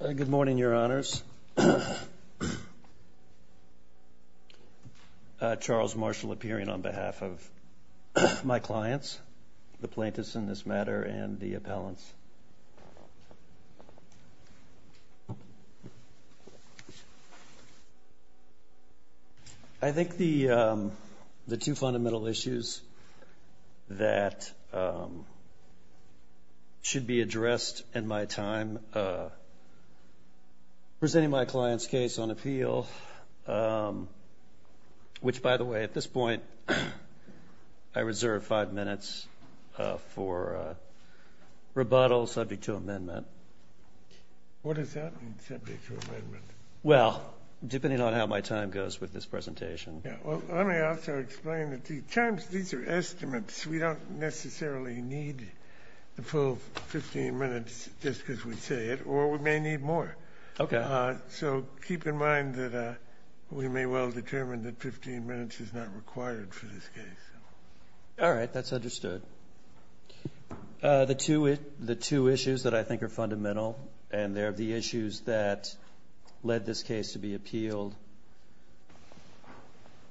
Good morning, Your Honors. Charles Marshall appearing on behalf of my clients, the plaintiffs in this matter and the appellants. I think the two fundamental issues that should be addressed in my time presenting my client's case on appeal, which, by the way, at this point I reserve five minutes for rebuttal subject to amendment. What does that mean, subject to amendment? Well, depending on how my time goes with this presentation. Let me also explain that these are estimates. We don't necessarily need the full 15 minutes just because we say it, or we may need more. Okay. So keep in mind that we may well determine that 15 minutes is not required for this case. All right. That's understood. The two issues that I think are fundamental, and they're the issues that led this case to be appealed,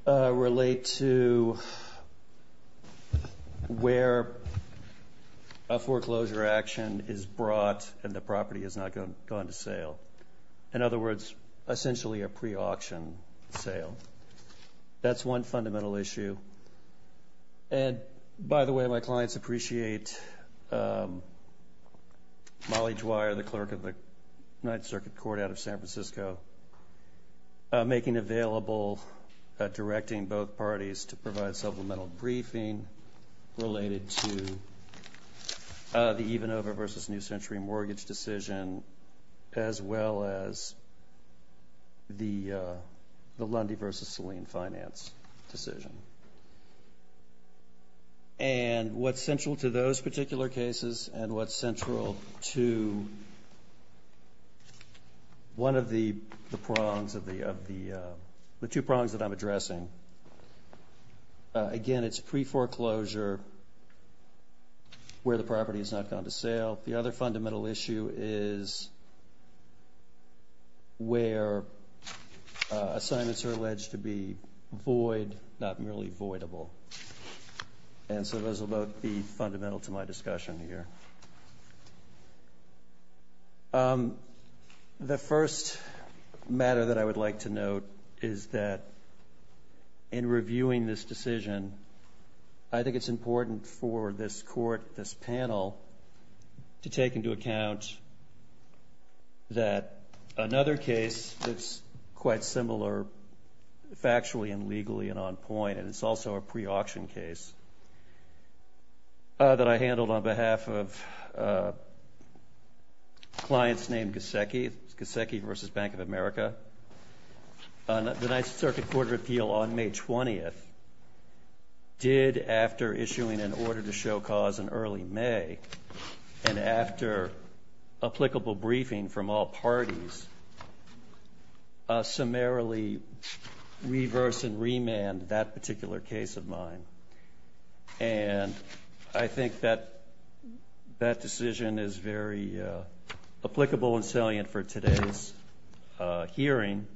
relate to where a foreclosure action is brought and the property has not gone to sale. In other words, essentially a pre-auction sale. That's one fundamental issue. And, by the way, my clients appreciate Molly Dwyer, the clerk of the Ninth Circuit Court out of San Francisco, making available directing both parties to provide supplemental briefing related to the Evenover v. New Century mortgage decision as well as the Lundy v. Saline finance decision. And what's central to those particular cases and what's central to one of the prongs, the two prongs that I'm addressing. Again, it's pre-foreclosure where the property has not gone to sale. The other fundamental issue is where assignments are alleged to be void, not merely voidable. And so those will both be fundamental to my discussion here. The first matter that I would like to note is that in reviewing this decision, I think it's important for this court, this panel, to take into account that another case that's quite similar factually and legally and on point, and it's also a pre-auction case that I handled on behalf of clients named Gusecki, Gusecki v. Bank of America. The Ninth Circuit Court of Appeal on May 20th did, after issuing an order to show cause in early May and after applicable briefing from all parties, summarily reverse and remand that particular case of mine. And I think that that decision is very applicable and salient for today's hearing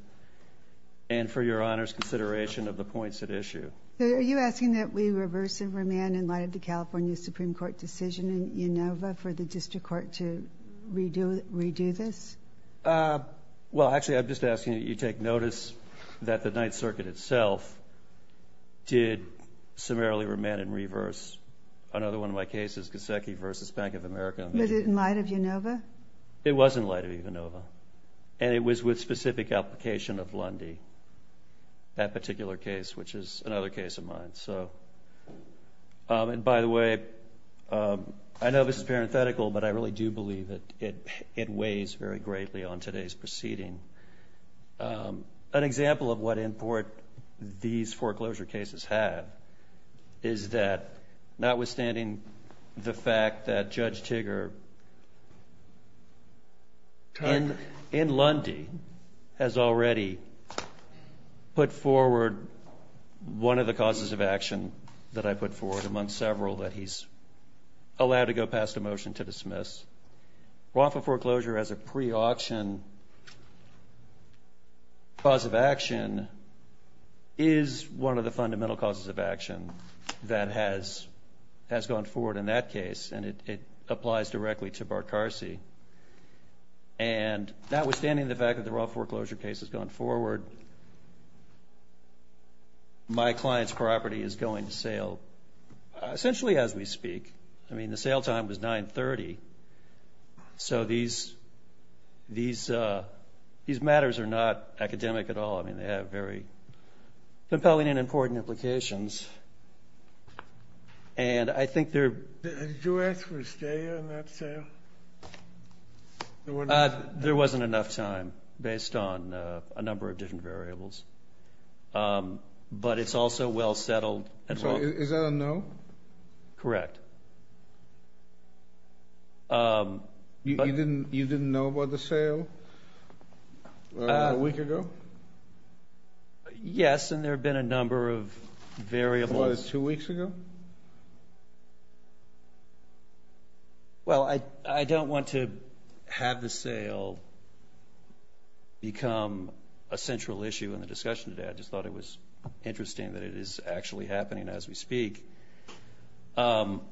and for Your Honor's consideration of the points at issue. Are you asking that we reverse and remand in light of the California Supreme Court decision in ENOVA for the district court to redo this? Well, actually, I'm just asking that you take notice that the Ninth Circuit itself did summarily remand and reverse. Another one of my cases, Gusecki v. Bank of America. Was it in light of ENOVA? It was in light of ENOVA. And it was with specific application of Lundy, that particular case, which is another case of mine. And by the way, I know this is parenthetical, but I really do believe that it weighs very greatly on today's proceeding. An example of what import these foreclosure cases have is that notwithstanding the fact that Judge Tigger in Lundy has already put forward one of the causes of action that I put forward, among several that he's allowed to go past a motion to dismiss, roffle foreclosure as a pre-auction cause of action is one of the fundamental causes of action that has gone forward in that case. And it applies directly to Barkarsi. And notwithstanding the fact that the roffle foreclosure case has gone forward, my client's property is going to sale essentially as we speak. I mean, the sale time was 930. So these matters are not academic at all. I mean, they have very compelling and important implications. Did you ask for a stay in that sale? There wasn't enough time based on a number of different variables. But it's also well settled. Is that a no? Correct. You didn't know about the sale a week ago? Yes, and there have been a number of variables. As far as two weeks ago? Well, I don't want to have the sale become a central issue in the discussion today. I just thought it was interesting that it is actually happening as we speak. I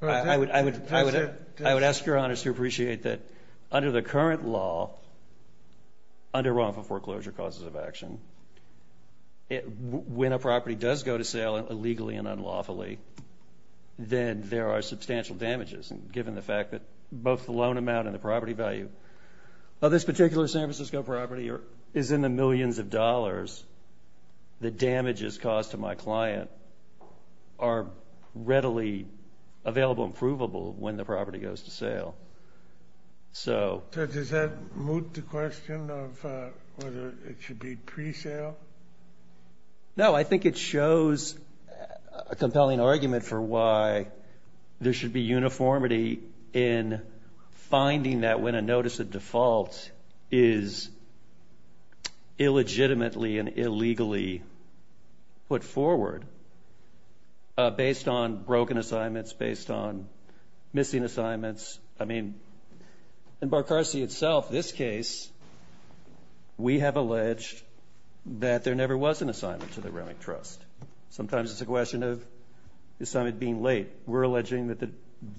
would ask Your Honor to appreciate that under the current law, under roffle foreclosure causes of action, when a property does go to sale illegally and unlawfully, then there are substantial damages. And given the fact that both the loan amount and the property value of this particular San Francisco property is in the millions of dollars, the damages caused to my client are readily available and provable when the property goes to sale. So does that moot the question of whether it should be pre-sale? No, I think it shows a compelling argument for why there should be uniformity in finding that when a notice of default is illegitimately and illegally put forward, based on broken assignments, based on missing assignments. I mean, in Barcarsi itself, this case, we have alleged that there never was an assignment to the Remington Trust. Sometimes it's a question of the assignment being late. We're alleging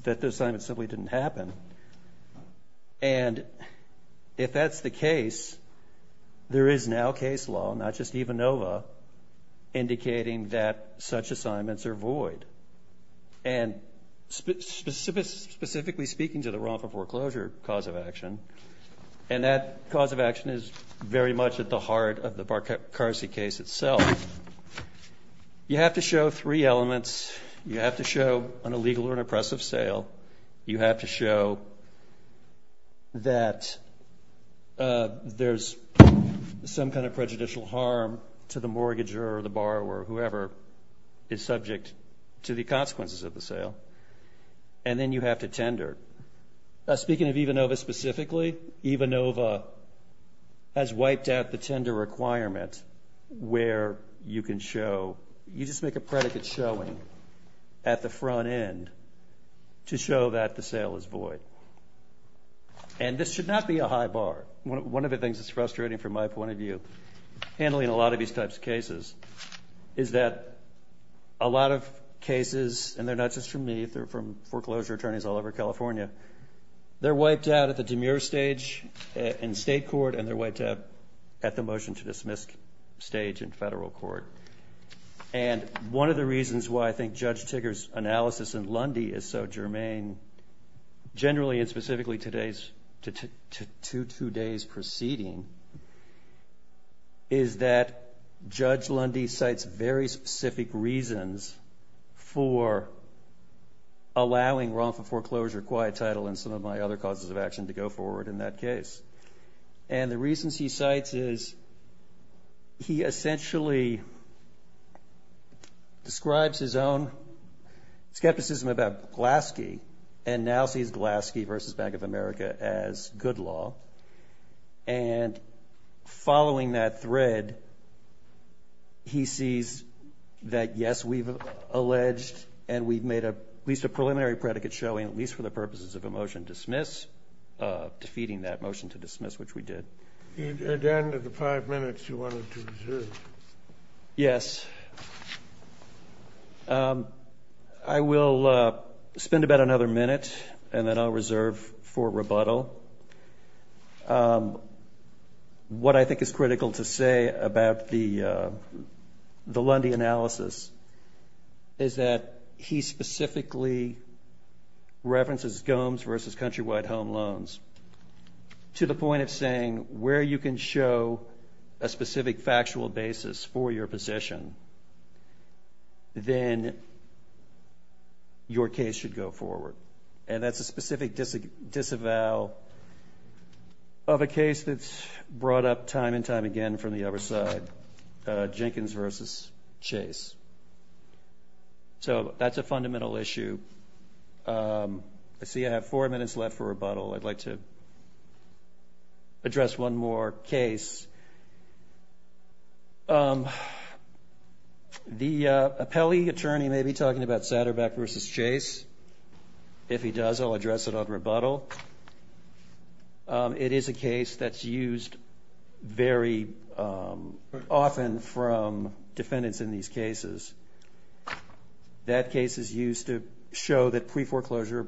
that the assignment simply didn't happen. And if that's the case, there is now case law, not just EVA Nova, indicating that such assignments are void. And specifically speaking to the roffle foreclosure cause of action, and that cause of action is very much at the heart of the Barcarsi case itself, you have to show three elements. You have to show an illegal or an oppressive sale. You have to show that there's some kind of prejudicial harm to the mortgager or the borrower, whoever is subject to the consequences of the sale. And then you have to tender. Speaking of EVA Nova specifically, EVA Nova has wiped out the tender requirement where you can show, you just make a predicate showing at the front end to show that the sale is void. And this should not be a high bar. One of the things that's frustrating from my point of view, handling a lot of these types of cases, is that a lot of cases, and they're not just from me, they're from foreclosure attorneys all over California, they're wiped out at the demure stage in state court and they're wiped out at the motion to dismiss stage in federal court. And one of the reasons why I think Judge Tigger's analysis in Lundy is so germane, generally and specifically to today's proceeding, is that Judge Lundy cites very specific reasons for allowing wrongful foreclosure, quiet title, and some of my other causes of action to go forward in that case. And the reasons he cites is he essentially describes his own skepticism about Glaske and now sees Glaske v. Bank of America as good law. And following that thread, he sees that, yes, we've alleged and we've made at least a preliminary predicate showing, at least for the purposes of a motion to dismiss, defeating that motion to dismiss, which we did. At the end of the five minutes, you wanted to reserve. Yes. I will spend about another minute and then I'll reserve for rebuttal. So what I think is critical to say about the Lundy analysis is that he specifically references Gomes v. Countrywide Home Loans to the point of saying where you can show a specific factual basis for your position, then your case should go forward. And that's a specific disavowal of a case that's brought up time and time again from the other side, Jenkins v. Chase. So that's a fundamental issue. I see I have four minutes left for rebuttal. I'd like to address one more case. The appellee attorney may be talking about Satterbeck v. Chase. If he does, I'll address it on rebuttal. It is a case that's used very often from defendants in these cases. That case is used to show that pre-foreclosure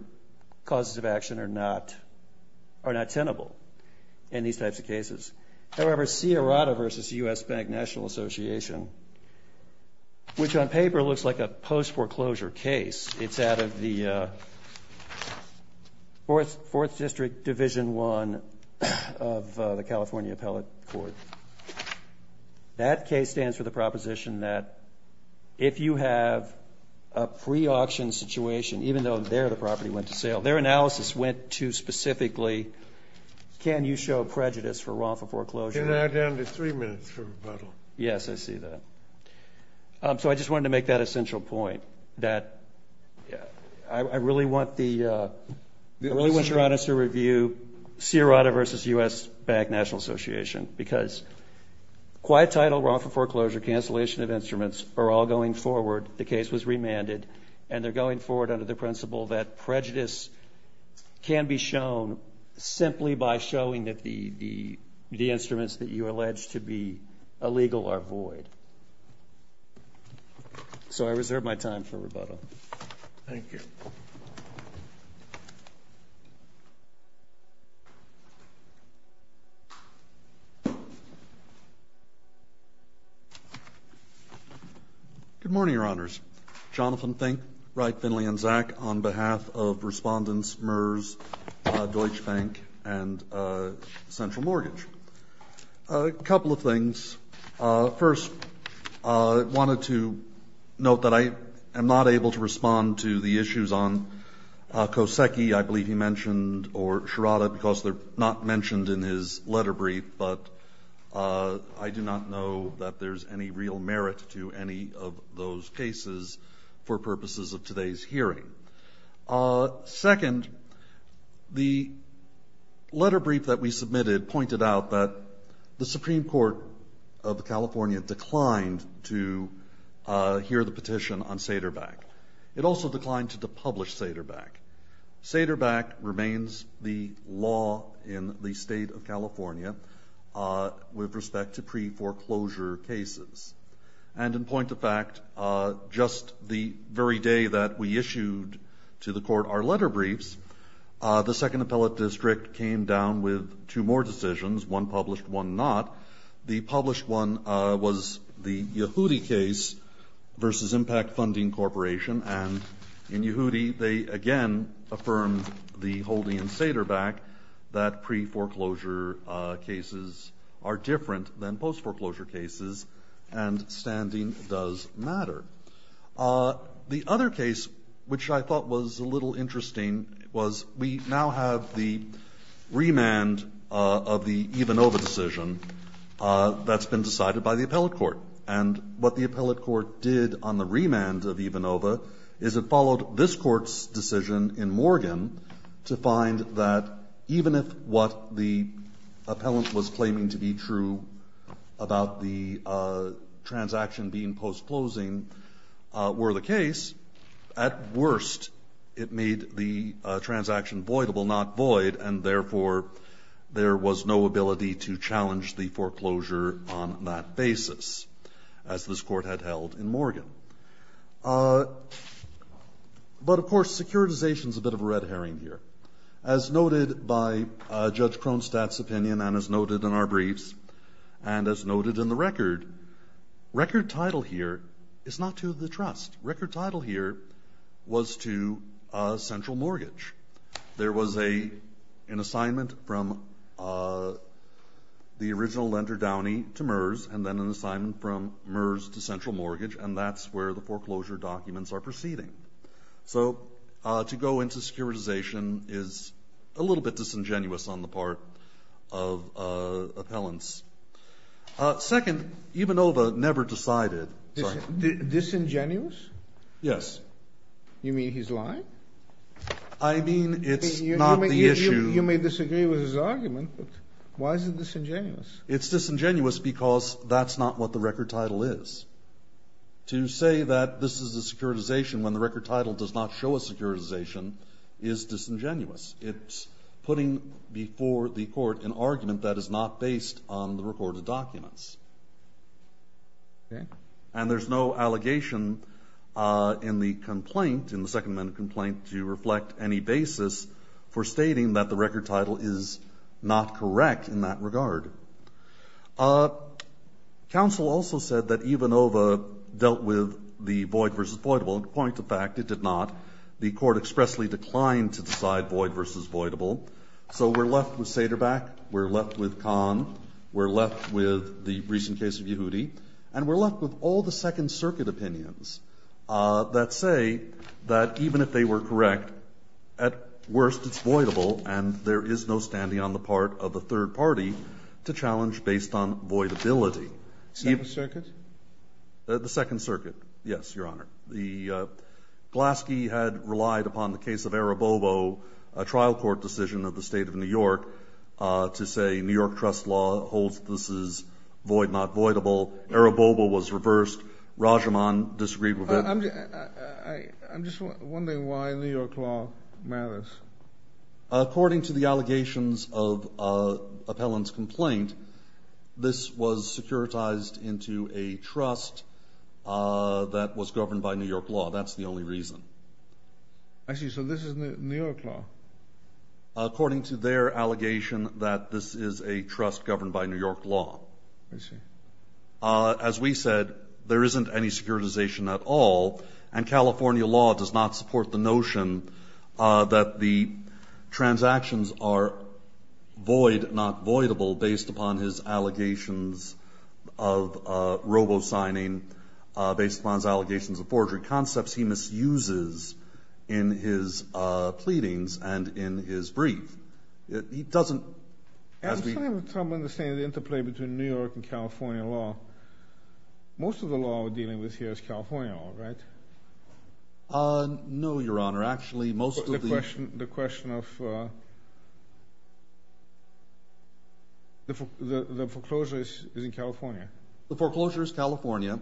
causes of action are not tenable in these types of cases. However, Sierrata v. U.S. Bank National Association, which on paper looks like a post-foreclosure case, it's out of the Fourth District Division I of the California Appellate Court. That case stands for the proposition that if you have a pre-auction situation, even though there the property went to sale, their analysis went to specifically can you show prejudice for wrongful foreclosure. You're now down to three minutes for rebuttal. Yes, I see that. So I just wanted to make that essential point, that I really want Sierrata to review Sierrata v. U.S. Bank National Association because quiet title, wrongful foreclosure, cancellation of instruments are all going forward. The case was remanded, and they're going forward under the principle that prejudice can be shown simply by showing that the instruments that you allege to be illegal are void. So I reserve my time for rebuttal. Thank you. Good morning, Your Honors. Jonathan Fink, Wright, Finley, and Zak on behalf of Respondents, MERS, Deutsche Bank, and Central Mortgage. A couple of things. First, I wanted to note that I am not able to respond to the issues on Kosecki, I believe he mentioned, or Sierrata because they're not mentioned in his letter brief, but I do not know that there's any real merit to any of those cases for purposes of today's hearing. Second, the letter brief that we submitted pointed out that the Supreme Court of California declined to hear the petition on Saderbach. It also declined to publish Saderbach. Saderbach remains the law in the state of California with respect to pre-foreclosure cases. And in point of fact, just the very day that we issued to the court our letter briefs, the Second Appellate District came down with two more decisions, one published, one not. The published one was the Yehudi case versus Impact Funding Corporation, and in Yehudi they again affirmed the holding in Saderbach that pre-foreclosure cases are different than post-foreclosure cases, and standing does matter. The other case, which I thought was a little interesting, was we now have the remand of the Ivanova decision that's been decided by the appellate court. And what the appellate court did on the remand of Ivanova is it followed this court's decision in Morgan to find that even if what the appellant was claiming to be true about the transaction being post-closing were the case, at worst it made the transaction voidable, not void, and therefore there was no ability to challenge the foreclosure on that basis, as this court had held in Morgan. But, of course, securitization is a bit of a red herring here. As noted by Judge Kronstadt's opinion and as noted in our briefs and as noted in the record, record title here is not to the trust. Record title here was to central mortgage. There was an assignment from the original lender, Downey, to MERS, and then an assignment from MERS to central mortgage, and that's where the foreclosure documents are proceeding. So to go into securitization is a little bit disingenuous on the part of appellants. Second, Ivanova never decided. Disingenuous? Yes. You mean he's lying? I mean it's not the issue. You may disagree with his argument, but why is it disingenuous? It's disingenuous because that's not what the record title is. To say that this is a securitization when the record title does not show a securitization is disingenuous. It's putting before the court an argument that is not based on the recorded documents. Okay. And there's no allegation in the complaint, in the second amendment complaint, to reflect any basis for stating that the record title is not correct in that regard. Counsel also said that Ivanova dealt with the void versus voidable. Point of fact, it did not. The court expressly declined to decide void versus voidable. So we're left with Saderbach, we're left with Kahn, we're left with the recent case of Yehudi, and we're left with all the Second Circuit opinions that say that even if they were correct, at worst it's voidable and there is no standing on the part of the third party to challenge based on voidability. Second Circuit? The Second Circuit, yes, Your Honor. The Glaske had relied upon the case of Arabovo, a trial court decision of the State of New York, to say New York trust law holds this is void not voidable. Arabovo was reversed. Rajaman disagreed with it. I'm just wondering why New York law matters. According to the allegations of Appellant's complaint, this was securitized into a trust that was governed by New York law. That's the only reason. I see. So this is New York law. According to their allegation that this is a trust governed by New York law. I see. As we said, there isn't any securitization at all, and California law does not support the notion that the transactions are void not voidable based upon his allegations of robo-signing, based upon his allegations of forgery concepts he misuses in his pleadings and in his brief. He doesn't... I'm trying to understand the interplay between New York and California law. Most of the law we're dealing with here is California law, right? No, Your Honor. Actually, most of the... The question of the foreclosure is in California. The foreclosure is California,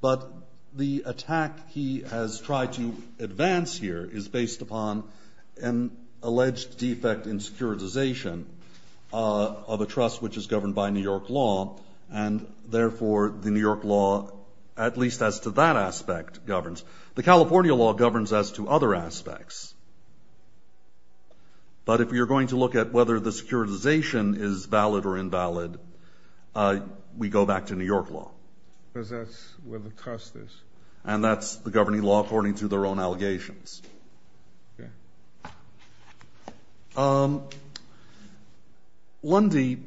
but the attack he has tried to advance here is based upon an alleged defect in securitization of a trust which is governed by New York law, and therefore the New York law, at least as to that aspect, governs. The California law governs as to other aspects. But if you're going to look at whether the securitization is valid or invalid, we go back to New York law. Because that's where the trust is. And that's the governing law according to their own allegations. Okay. Lundy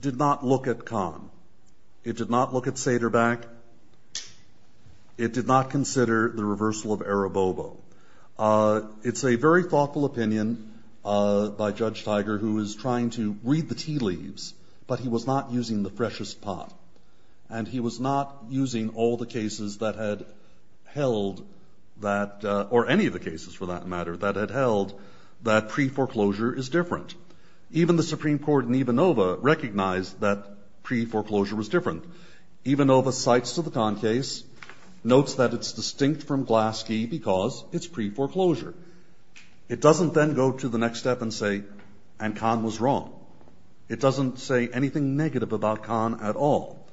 did not look at Kahn. It did not look at Saderbeck. It did not consider the reversal of Arabobo. It's a very thoughtful opinion by Judge Tiger who is trying to read the tea leaves, but he was not using the freshest pot. And he was not using all the cases that had held that... Or any of the cases, for that matter, that had held that pre-foreclosure is different. Even the Supreme Court in Ivanova recognized that pre-foreclosure was different. Ivanova cites to the Kahn case, notes that it's distinct from Glaske because it's pre-foreclosure. It doesn't then go to the next step and say, and Kahn was wrong. It doesn't say anything negative about Kahn at all.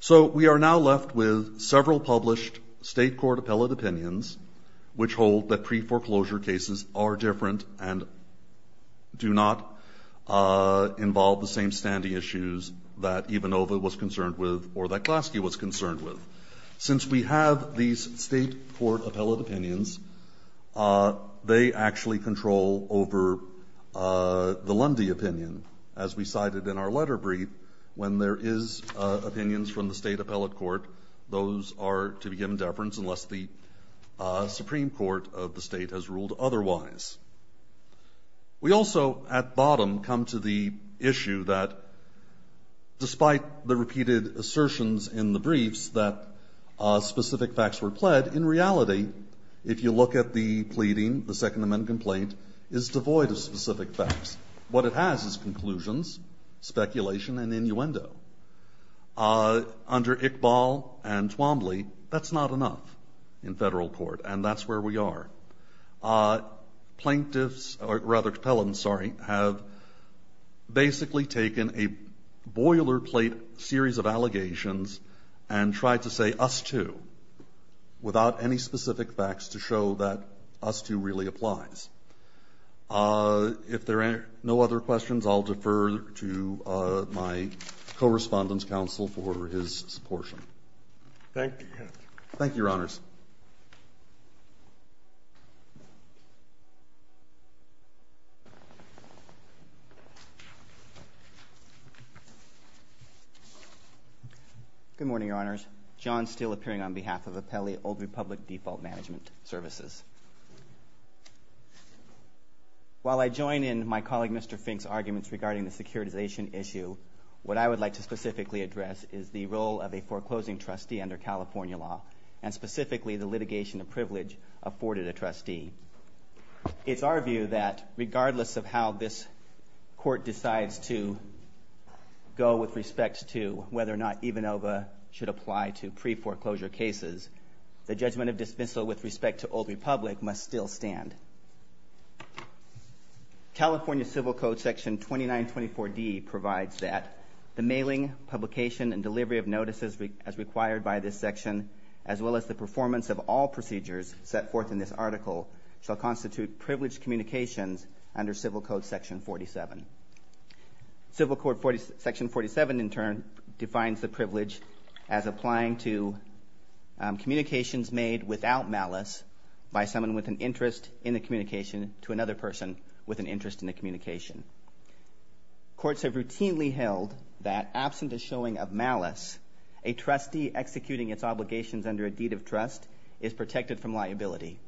So we are now left with several published state court appellate opinions which hold that pre-foreclosure cases are different and do not involve the same standing issues that Ivanova was concerned with or that Glaske was concerned with. Since we have these state court appellate opinions, they actually control over the Lundy opinion, as we cited in our letter brief. When there is opinions from the state appellate court, those are to be given deference unless the Supreme Court of the state has ruled otherwise. We also, at bottom, come to the issue that despite the repeated assertions in the briefs that specific facts were pled, in reality, if you look at the pleading, the Second Amendment complaint is devoid of specific facts. What it has is conclusions, speculation, and innuendo. Under Iqbal and Twombly, that's not enough in federal court, and that's where we are. Plaintiffs, or rather appellants, sorry, have basically taken a boilerplate series of allegations and tried to say, us too, without any specific facts to show that us too really applies. If there are no other questions, I'll defer to my Correspondent's counsel for his portion. Thank you, Your Honor. Thank you, Your Honors. Good morning, Your Honors. John Steele appearing on behalf of Appellee Old Republic Default Management Services. While I join in my colleague Mr. Fink's arguments regarding the securitization issue, what I would like to specifically address is the role of a foreclosing trustee under California law and specifically the litigation of privilege afforded a trustee. It's our view that regardless of how this court decides to go with respect to whether or not EVA Nova should apply to pre-foreclosure cases, the judgment of dismissal with respect to Old Republic must still stand. California Civil Code Section 2924D provides that the mailing, publication, and delivery of notices as required by this section, as well as the performance of all procedures set forth in this article, shall constitute privileged communications under Civil Code Section 47. Civil Code Section 47, in turn, defines the privilege as applying to communications made without malice by someone with an interest in the communication to another person with an interest in the communication. Courts have routinely held that absent a showing of malice, a trustee executing its obligations under a deed of trust is protected from liability.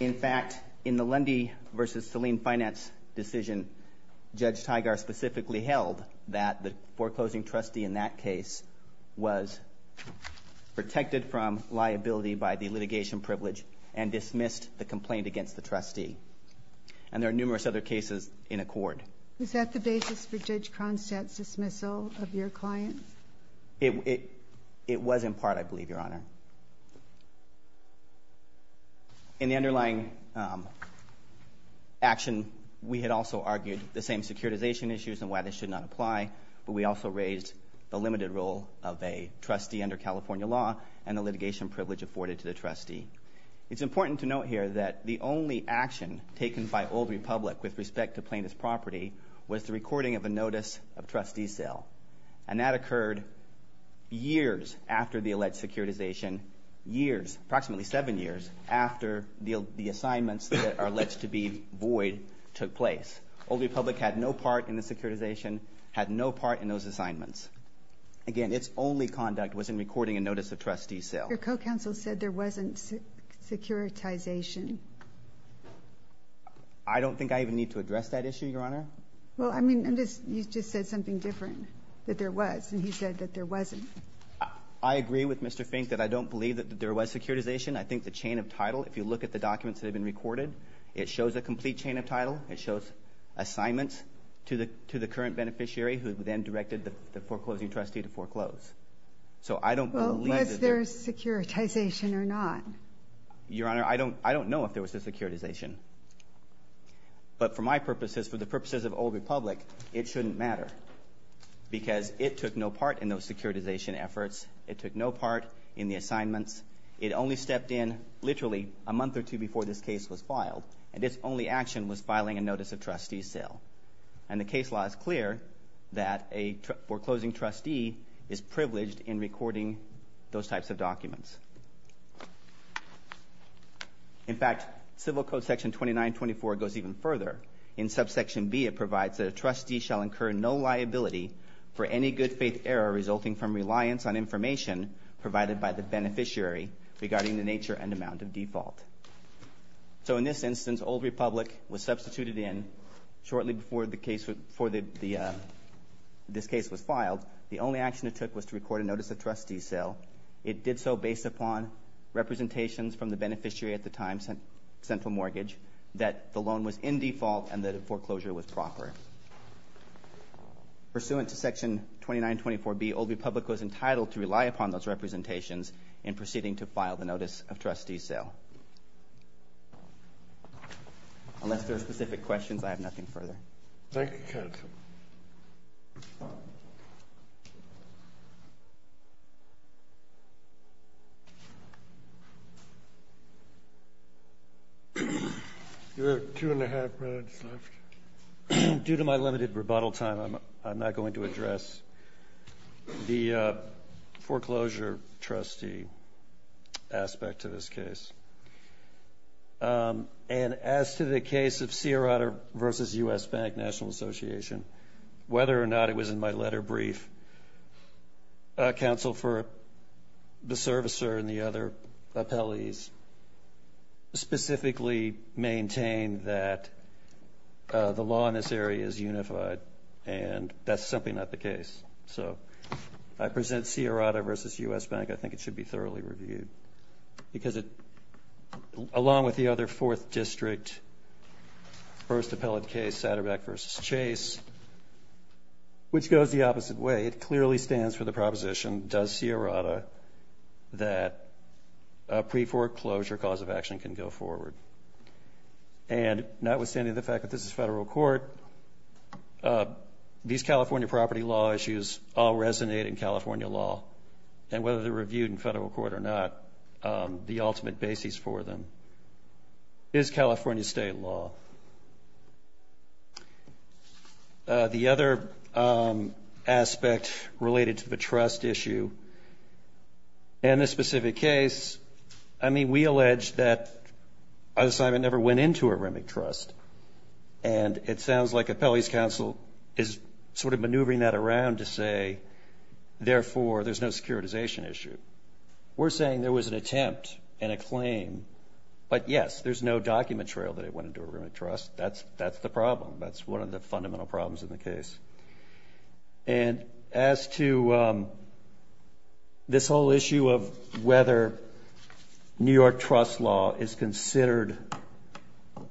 In fact, in the Lundy v. Saline Finance decision, Judge Tigar specifically held that the foreclosing trustee in that case was protected from liability by the litigation privilege and dismissed the complaint against the trustee. And there are numerous other cases in accord. Was that the basis for Judge Cronstadt's dismissal of your client? It was in part, I believe, Your Honor. In the underlying action, we had also argued the same securitization issues and why they should not apply, but we also raised the limited role of a trustee under California law and the litigation privilege afforded to the trustee. It's important to note here that the only action taken by Old Republic with respect to plaintiff's property was the recording of a notice of trustee sale, and that occurred years after the alleged securitization, years, approximately seven years, after the assignments that are alleged to be void took place. Old Republic had no part in the securitization, had no part in those assignments. Again, its only conduct was in recording a notice of trustee sale. Your co-counsel said there wasn't securitization. I don't think I even need to address that issue, Your Honor. Well, I mean, you just said something different, that there was, and he said that there wasn't. I agree with Mr. Fink that I don't believe that there was securitization. I think the chain of title, if you look at the documents that have been recorded, it shows a complete chain of title. It shows assignments to the current beneficiary who then directed the foreclosing trustee to foreclose. Well, is there securitization or not? Your Honor, I don't know if there was a securitization. But for my purposes, for the purposes of Old Republic, it shouldn't matter because it took no part in those securitization efforts. It took no part in the assignments. It only stepped in literally a month or two before this case was filed, and its only action was filing a notice of trustee sale. And the case law is clear that a foreclosing trustee is privileged in recording those types of documents. In fact, Civil Code section 2924 goes even further. In subsection B, it provides that a trustee shall incur no liability for any good faith error resulting from reliance on information provided by the beneficiary regarding the nature and amount of default. So in this instance, Old Republic was substituted in shortly before this case was filed. The only action it took was to record a notice of trustee sale. It did so based upon representations from the beneficiary at the time sent for mortgage that the loan was in default and that the foreclosure was proper. Pursuant to section 2924B, Old Republic was entitled to rely upon those representations in proceeding to file the notice of trustee sale. Unless there are specific questions, I have nothing further. Thank you, counsel. You have two and a half minutes left. Due to my limited rebuttal time, I'm not going to address the foreclosure trustee aspect to this case. And as to the case of Sierrata v. U.S. Bank National Association, whether or not it was in my letter brief, counsel for the servicer and the other appellees specifically maintained that the law in this area is unified and that's simply not the case. So I present Sierrata v. U.S. Bank. I think it should be thoroughly reviewed because it, along with the other fourth district, first appellate case, Satterbeck v. Chase, which goes the opposite way. It clearly stands for the proposition, does Sierrata, that a pre-foreclosure cause of action can go forward. And notwithstanding the fact that this is federal court, these California property law issues all resonate in California law. And whether they're reviewed in federal court or not, the ultimate basis for them is California state law. The other aspect related to the trust issue, in this specific case, I mean, we allege that an assignment never went into a REMIC trust. And it sounds like appellees' counsel is sort of maneuvering that around to say, therefore, there's no securitization issue. We're saying there was an attempt and a claim. But yes, there's no document trail that it went into a REMIC trust. That's the problem. That's one of the fundamental problems in the case. And as to this whole issue of whether New York trust law is considered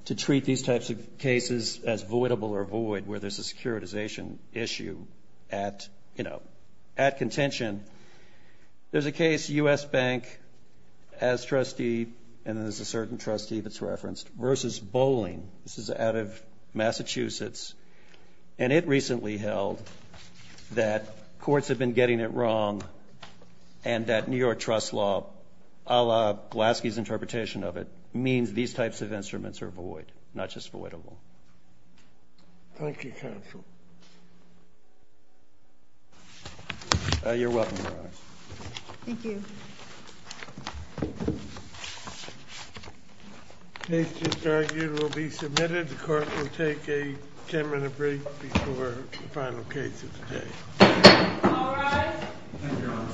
to treat these types of cases as voidable or void where there's a securitization issue at, you know, at contention, there's a case, U.S. Bank, as trustee, and there's a certain trustee that's referenced, versus Bolling. This is out of Massachusetts. And it recently held that courts have been getting it wrong and that New York trust law, a la Glaske's interpretation of it, means these types of instruments are void, not just voidable. Thank you, counsel. You're welcome, Your Honor. Thank you. The case just argued will be submitted. The court will take a ten-minute break before the final case of the day. All rise. Thank you, Your Honor.